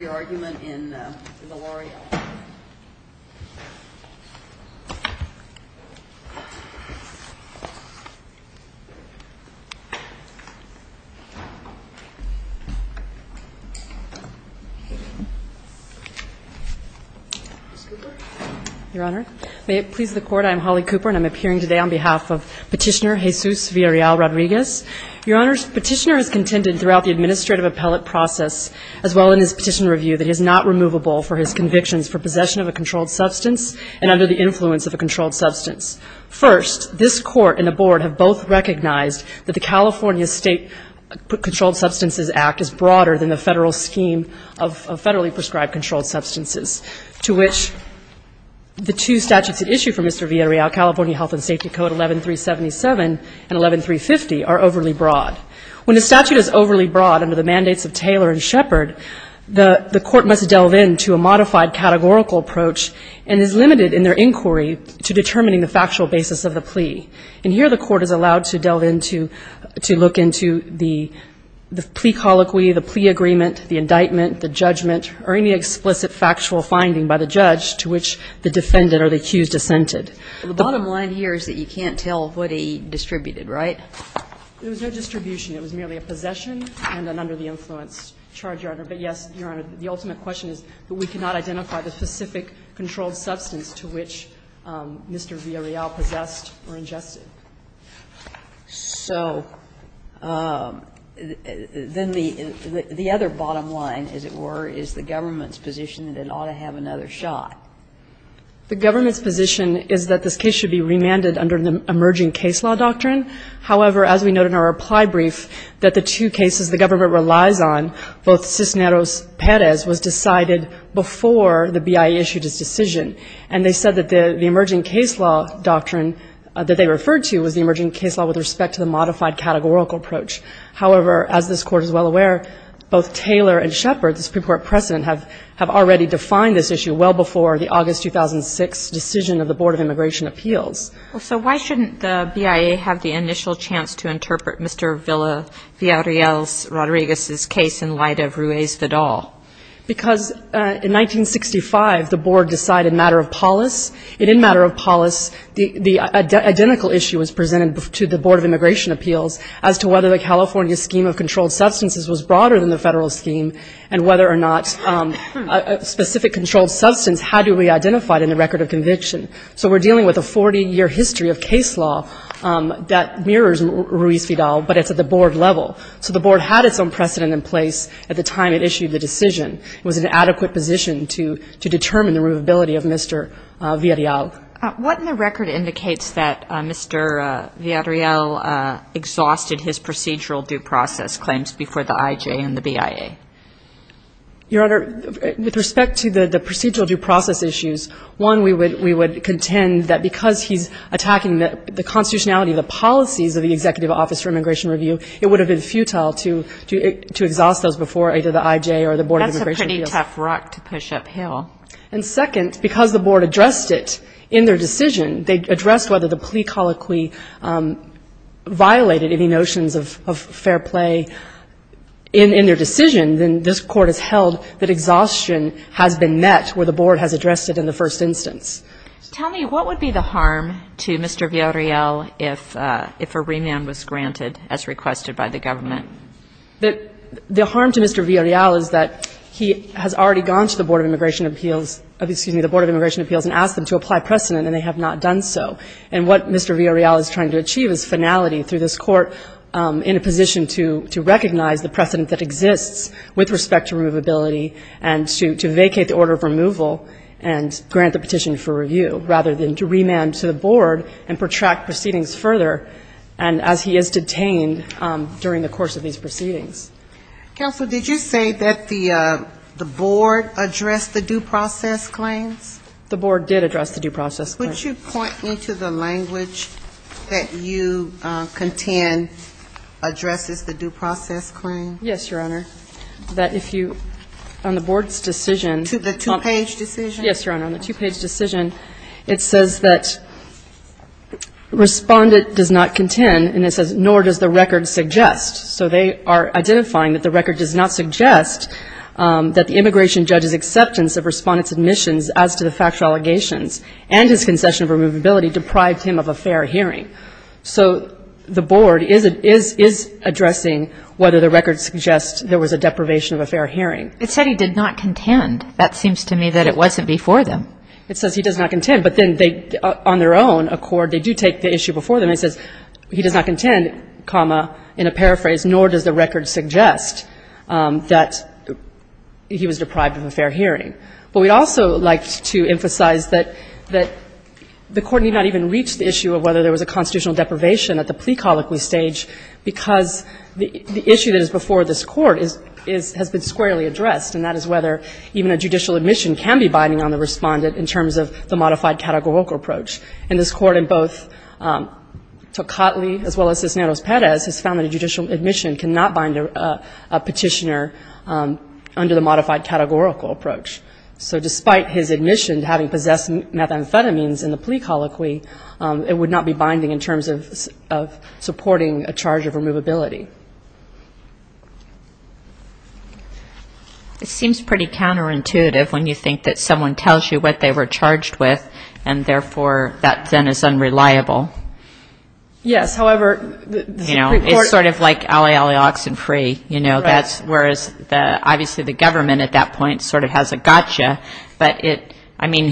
May it please the Court, I am Holly Cooper and I'm appearing today on behalf of Petitioner Jesus Villarreal-Rodriguez. Your Honor, Petitioner has contended throughout the administrative appellate process as well in his petition review that he is not removable for his convictions for possession of a controlled substance and under the influence of a controlled substance. First, this Court and the Board have both recognized that the California State Controlled Substances Act is broader than the federal scheme of federally prescribed controlled substances to which the two statutes at issue for Mr. Villarreal, California Health and Safety Code 11377 and 11350 are overly broad. When the statute is overly broad under the mandates of Taylor and Shepard, the Court must delve into a modified categorical approach and is limited in their inquiry to determining the factual basis of the plea. And here the Court is allowed to delve into, to look into the plea colloquy, the plea agreement, the indictment, the judgment, or any explicit factual finding by the judge to which the defendant or the accused assented. The bottom line here is that you can't tell what he distributed, right? There was no distribution. It was merely a possession and an under-the-influence charge, Your Honor. But, yes, Your Honor, the ultimate question is that we cannot identify the specific controlled substance to which Mr. Villarreal possessed or ingested. So then the other bottom line, as it were, is the government's position that it ought to have another shot. The government's position is that this case should be remanded under the emerging case law doctrine. However, as we note in our reply brief, that the two cases the government relies on, both Cisneros-Perez was decided before the BIA issued its decision. And they said that the emerging case law doctrine that they referred to was the emerging case law with respect to the modified categorical approach. However, as this Court is well aware, both Taylor and Shepard, the Supreme Court precedent, have already defined this issue well before the August 2006 decision of the Board of Immigration Appeals. Well, so why shouldn't the BIA have the initial chance to interpret Mr. Villarreal's Rodriguez's case in light of Ruiz-Vidal? Because in 1965, the Board decided matter of polis. And in matter of polis, the identical issue was presented to the Board of Immigration Appeals as to whether the California scheme of controlled substances was broader than the Federal scheme, and whether or not a specific controlled substance had to be identified in the record of conviction. So we're dealing with a 40-year history of case law that mirrors Ruiz-Vidal, but it's at the Board level. So the Board had its own precedent in place at the time it issued the decision. It was in an adequate position to determine the removability of Mr. Villarreal. What in the record indicates that Mr. Villarreal exhausted his procedural due process claims before the IJ and the BIA? Your Honor, with respect to the procedural due process issues, one, we would contend that because he's attacking the constitutionality of the policies of the Executive Office for Immigration Review, it would have been futile to exhaust those before either the IJ or the Board of Immigration Appeals. That's a pretty tough rock to push uphill. And second, because the Board addressed it in their decision, they addressed whether the plea colloquy violated any notions of fair play in their decision, then this Court has held that exhaustion has been met where the Board has addressed it in the first instance. Tell me, what would be the harm to Mr. Villarreal if a remand was granted as requested by the government? The harm to Mr. Villarreal is that he has already gone to the Board of Immigration Appeals, excuse me, the Board of Immigration Appeals and asked them to apply precedent and they have not done so. And what Mr. Villarreal is trying to achieve is finality through this court in a position to recognize the precedent that exists with respect to removability and to vacate the order of removal and grant the petition for review rather than to remand to the Board and protract proceedings further and as he is detained during the course of these proceedings. Counsel, did you say that the Board addressed the due process claims? The Board did address the due process claims. Would you point me to the language that you contend addresses the due process claim? Yes, Your Honor. That if you, on the Board's decision. To the two-page decision? Yes, Your Honor. On the two-page decision, it says that Respondent does not contend and it says, nor does the record suggest. So they are identifying that the record does not suggest that the immigration judge's acceptance of Respondent's admissions as to the factual allegations and his concession of removability deprived him of a fair hearing. So the Board is addressing whether the record suggests there was a deprivation of a fair hearing. It said he did not contend. That seems to me that it wasn't before them. It says he does not contend, but then they, on their own accord, they do take the issue before them and it says he does not contend, comma, in a paraphrase, nor does the record suggest that he was deprived of a fair hearing. But we'd also like to emphasize that the Court need not even reach the issue of whether there was a constitutional deprivation at the plea colloquy stage because the issue that is before this Court has been squarely addressed and that is whether even a judicial admission can be binding on the Respondent in terms of the modified categorical approach. And this Court in both Tocatli as well as Cisneros-Perez has found that a judicial admission cannot bind a petitioner under the modified categorical approach. So despite his admission having possessed methamphetamines in the plea colloquy, it would not be binding in terms of supporting a charge of removability. It seems pretty counterintuitive when you think that someone tells you what they were charged with and, therefore, that then is unreliable. Yes, however, the Supreme Court It's sort of like alley, alley, oxen free. You know, that's, whereas, obviously, the government at that point sort of has a clear understanding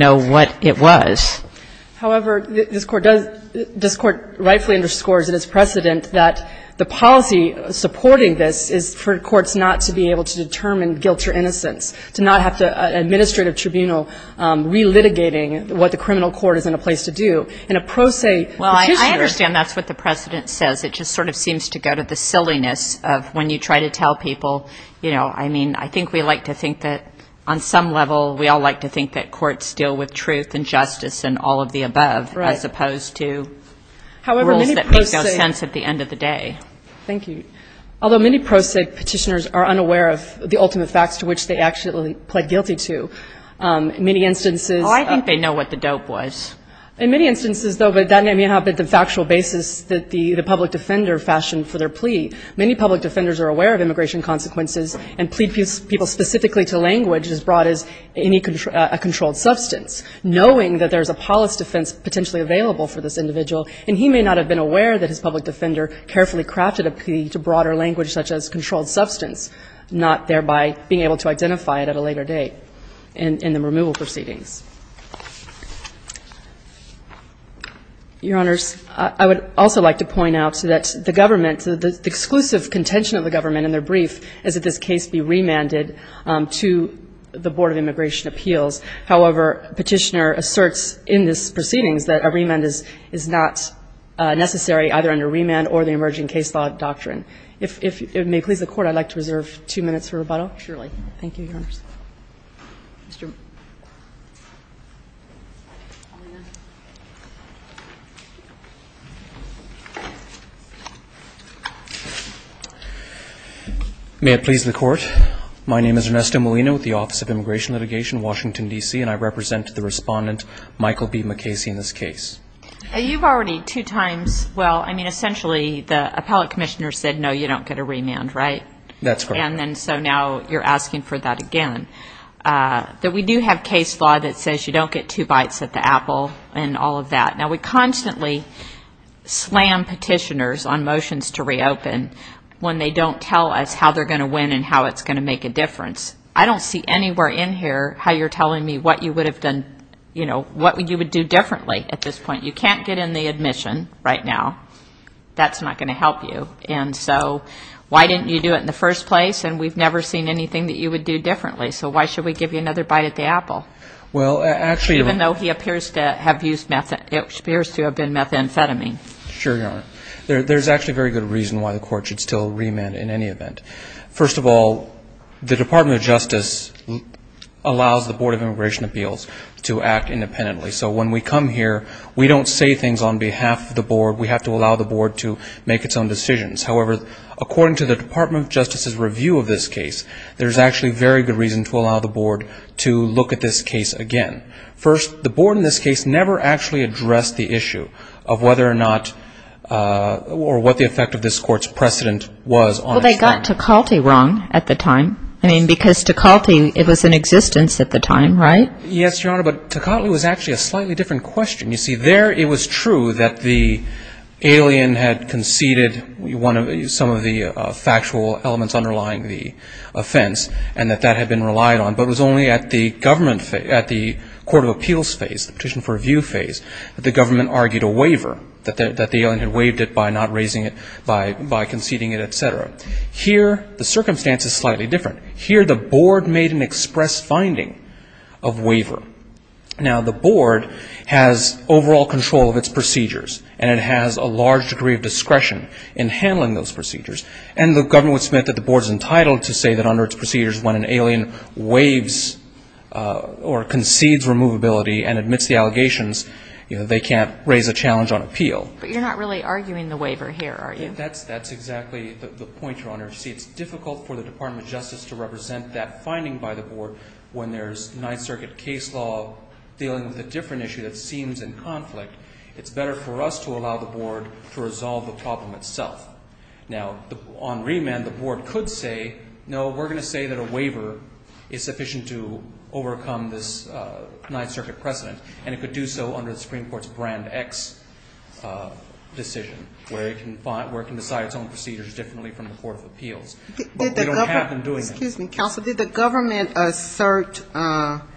of what it was. However, this Court does, this Court rightfully underscores in its precedent that the policy supporting this is for courts not to be able to determine guilt or innocence, to not have to administrative tribunal relitigating what the criminal court is in a place to do in a pro se petitioner. Well, I understand that's what the President says. It just sort of seems to go to the silliness of when you try to tell people, you know, I mean, I think we like to think that on some level we all like to think that courts deal with truth and justice and all of the above, as opposed to rules that make no sense at the end of the day. Thank you. Although many pro se petitioners are unaware of the ultimate facts to which they actually pled guilty to. In many instances Oh, I think they know what the dope was. In many instances, though, but that may not be the factual basis that the public defender fashioned for their plea. Many public defenders are aware of immigration consequences and plead people specifically to language as broad as any controlled substance, knowing that there's a polis defense potentially available for this individual, and he may not have been aware that his public defender carefully crafted a plea to broader language such as controlled substance, not thereby being able to identify it at a later date in the removal proceedings. Your Honors, I would also like to point out that the government, that the exclusive contention of the government in their brief is that this case be remanded to the Board of Immigration Appeals. However, Petitioner asserts in this proceedings that a remand is not necessary either under remand or the emerging case law doctrine. If it may please the Court, I'd like to reserve two minutes for rebuttal. Surely. Thank you, Your Honors. Mr. May it please the Court. My name is Ernesto Molina with the Office of Immigration Litigation, Washington, D.C., and I represent the respondent, Michael B. McCasey, in this case. You've already two times, well, I mean essentially the appellate commissioner said no, you don't get a remand, right? That's correct. And then so now you're asking for that again. That we do have case law that says you don't get two bites at the apple and all of that. Now we constantly slam petitioners on motions to reopen when they don't tell us how they're going to make a difference. I don't see anywhere in here how you're telling me what you would have done, you know, what you would do differently at this point. You can't get in the admission right now. That's not going to help you. And so why didn't you do it in the first place? And we've never seen anything that you would do differently. So why should we give you another bite at the apple? Well actually, even though he appears to have used meth, it appears to have been methamphetamine. Sure Your Honor. There's actually a very good reason why the Court should still remand in any event. First of all, the Department of Justice allows the Board of Immigration Appeals to act independently. So when we come here, we don't say things on behalf of the Board. We have to allow the Board to make its own decisions. However, according to the Department of Justice's review of this case, there's actually very good reason to allow the Board to look at this case again. First, the Board in this case never actually addressed the issue of whether or not or what the effect of this Court's precedent was. Well, they got Toccatli wrong at the time. I mean, because Toccatli, it was in existence at the time, right? Yes, Your Honor. But Toccatli was actually a slightly different question. You see, there it was true that the alien had conceded some of the factual elements underlying the offense and that that had been relied on. But it was only at the Court of Appeals phase, the petition for review phase, that the government argued a waiver, that the alien had waived it by not raising it, by conceding it, et cetera. Here, the circumstance is slightly different. Here, the Board made an express finding of waiver. Now, the Board has overall control of its procedures, and it has a large degree of discretion in handling those procedures. And the government would submit that the Board is entitled to say that under its procedures, when an alien waives or concedes removability and admits the allegations, you know, they can't raise a challenge on appeal. But you're not really arguing the waiver here, are you? That's exactly the point, Your Honor. You see, it's difficult for the Department of Justice to represent that finding by the Board when there's Ninth Circuit case law dealing with a different issue that seems in conflict. It's better for us to allow the Board to resolve the problem itself. Now, on remand, the Board could say, no, we're going to say that a waiver is sufficient to overcome this Ninth Circuit precedent, and it could do so under the Supreme Court's Brand X decision, where it can decide its own procedures differently from the Court of Appeals. But we don't have them doing that. Excuse me, Counsel. Did the government assert that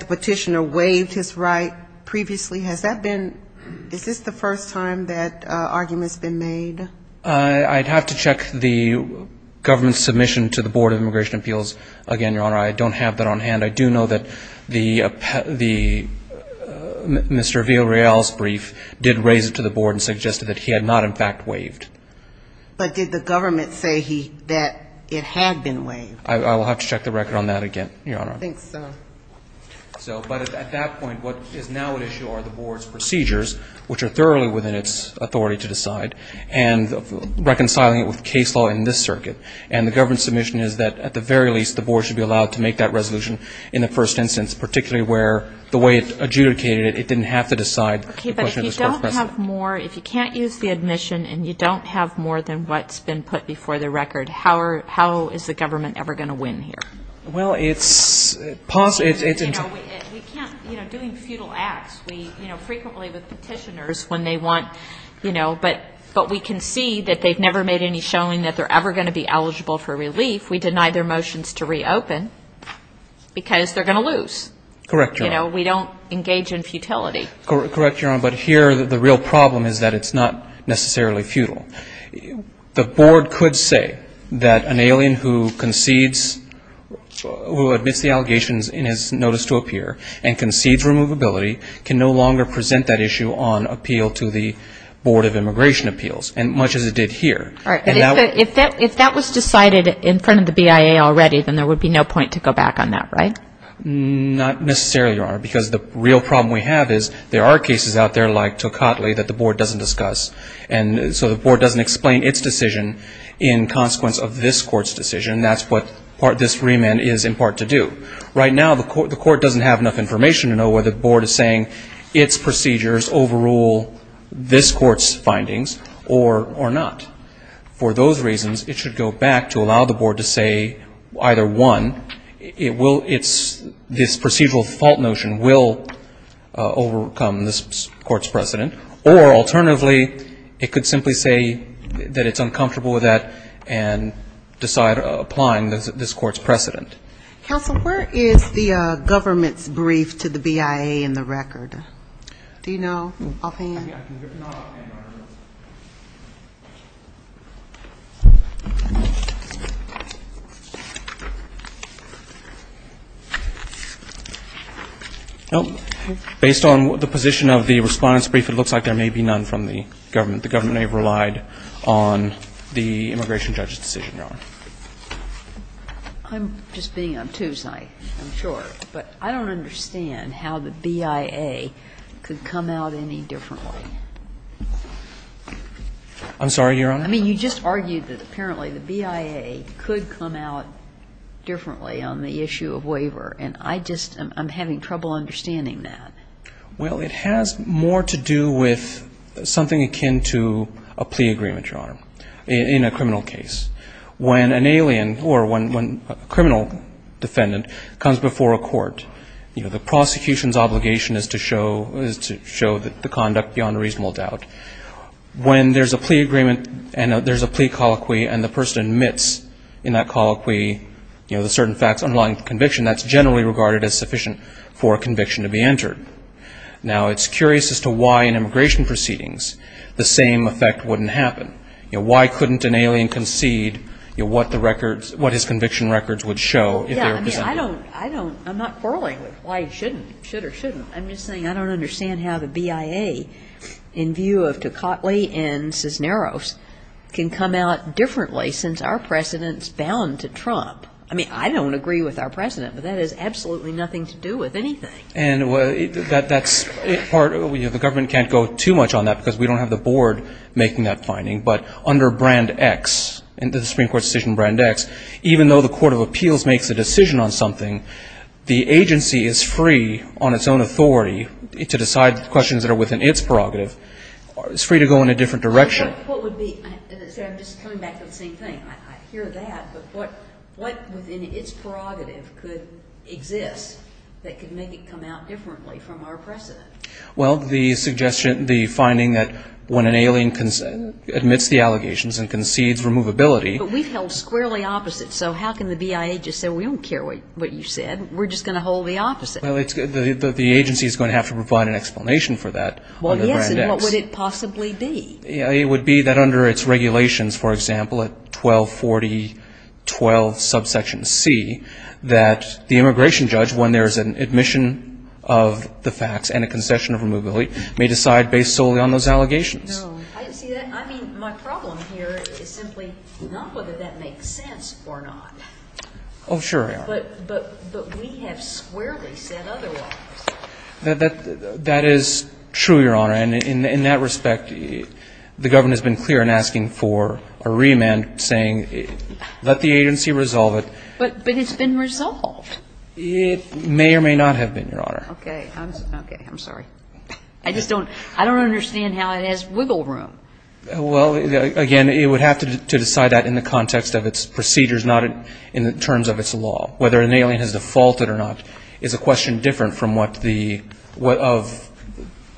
the petitioner waived his right previously? Has that been – is this the first time that argument's been made? I'd have to check the government's submission to the Board of Immigration Appeals again, Your Honor. I don't have that on hand. I do know that the – Mr. Villareal's brief did raise it to the Board and suggested that he had not, in fact, waived. But did the government say he – that it had been waived? I will have to check the record on that again, Your Honor. I think so. So – but at that point, what is now at issue are the Board's procedures, which are thoroughly within its authority to decide, and reconciling it with case law in this circuit. And the government's submission is that, at the very least, the Board should be allowed to make that resolution in the first instance, particularly where the way it adjudicated it, it didn't have to decide the question of this Court's precedent. If you have more – if you can't use the admission and you don't have more than what's been put before the record, how are – how is the government ever going to win here? Well, it's – it's – You know, we can't – you know, doing futile acts, we – you know, frequently with petitioners, when they want – you know, but we can see that they've never made any showing that they're ever going to be eligible for relief. We deny their motions to reopen because they're going to lose. Correct, Your Honor. You know, we don't engage in futility. Correct, Your Honor. But here, the real problem is that it's not necessarily futile. The Board could say that an alien who concedes – who admits the allegations in his notice to appear and concedes removability can no longer present that issue on appeal to the Board of Immigration Appeals, and much as it did here. All right. And if that – if that was decided in front of the BIA already, then there would be no point to go back on that, right? Not necessarily, Your Honor, because the real problem we have is there are cases out there like Tocatli that the Board doesn't discuss. And so the Board doesn't explain its decision in consequence of this Court's decision. That's what this remand is in part to do. Right now, the Court doesn't have enough information to know whether the Board is saying its procedures overrule this Court's findings or not. For those reasons, it should go back to allow the Board to say either, one, it will – it's – this procedural fault notion will overcome this Court's precedent, or alternatively, it could simply say that it's uncomfortable with that and decide applying this Court's precedent. Counsel, where is the government's brief to the BIA in the record? Do you know? I'll hand it over. I can give it to you. I'll hand it over. Well, based on the position of the Respondent's brief, it looks like there may be none from the government. The government may have relied on the immigration judge's decision, Your Honor. I'm just being obtuse, I'm sure. But I don't understand how the BIA could come out any differently. I'm sorry, Your Honor? I mean, you just argued that apparently the BIA could come out differently on the issue of waiver. And I just – I'm having trouble understanding that. Well, it has more to do with something akin to a plea agreement, Your Honor, in a criminal case. When an alien or when a criminal defendant comes before a court, you know, the prosecution's obligation is to show the conduct beyond a reasonable doubt. When there's a plea agreement and there's a plea colloquy and the person admits in that colloquy, you know, the certain facts underlying the conviction, that's generally regarded as sufficient for a conviction to be entered. Now, it's curious as to why in immigration proceedings the same effect wouldn't happen. You know, why couldn't an alien concede what the records – what his conviction records would show? Yeah, I mean, I don't – I don't – I'm not quarreling with why he shouldn't, should or shouldn't. I'm just saying I don't understand how the BIA, in view of Tocatli and Cisneros, can come out differently since our precedent's bound to Trump. I mean, I don't agree with our precedent, but that has absolutely nothing to do with anything. And that's part – the government can't go too much on that because we don't have the board making that finding. But under Brand X, the Supreme Court's decision in Brand X, even though the court of appeals makes a decision on something, the agency is free on its own authority to decide questions that are within its prerogative. It's free to go in a different direction. What would be – I'm just coming back to the same thing. I hear that, but what within its prerogative could exist that could make it come out differently from our precedent? Well, the suggestion – the finding that when an alien admits the allegations and concedes removability – But we've held squarely opposite, so how can the BIA just say, we don't care what you said, we're just going to hold the opposite? Well, it's – the agency's going to have to provide an explanation for that under Brand X. Well, yes, and what would it possibly be? It would be that under its regulations, for example, at 1240.12 subsection C, that the immigration judge, when there is an admission of the facts and a concession of removability, may decide based solely on those allegations. No. See, I mean, my problem here is simply not whether that makes sense or not. Oh, sure. But we have squarely said otherwise. That is true, Your Honor, and in that respect, the government has been clear in asking for a remand saying let the agency resolve it. But it's been resolved. It may or may not have been, Your Honor. Okay. Okay. I'm sorry. I just don't – I don't understand how it has wiggle room. Well, again, it would have to decide that in the context of its procedures, not in terms of its law. Whether an alien has defaulted or not is a question different from what the – what of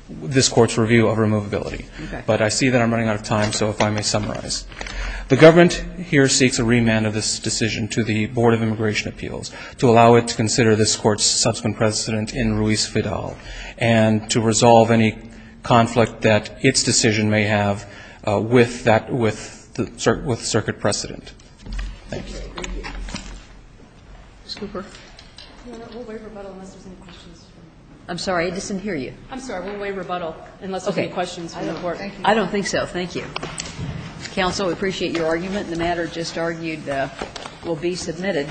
this Court's review of removability. Okay. But I see that I'm running out of time, so if I may summarize. The government here seeks a remand of this decision to the Board of Immigration Appeals to allow it to consider this Court's subsequent precedent in Ruiz-Fidal and to resolve any conflict that its decision may have with that – with the circuit precedent. Thank you. Ms. Cooper. Your Honor, we'll waive rebuttal unless there's any questions from the Court. I'm sorry. I didn't hear you. I'm sorry. We'll waive rebuttal unless there's any questions from the Court. Thank you. Thank you. Counsel, we appreciate your argument. The matter just argued will be submitted.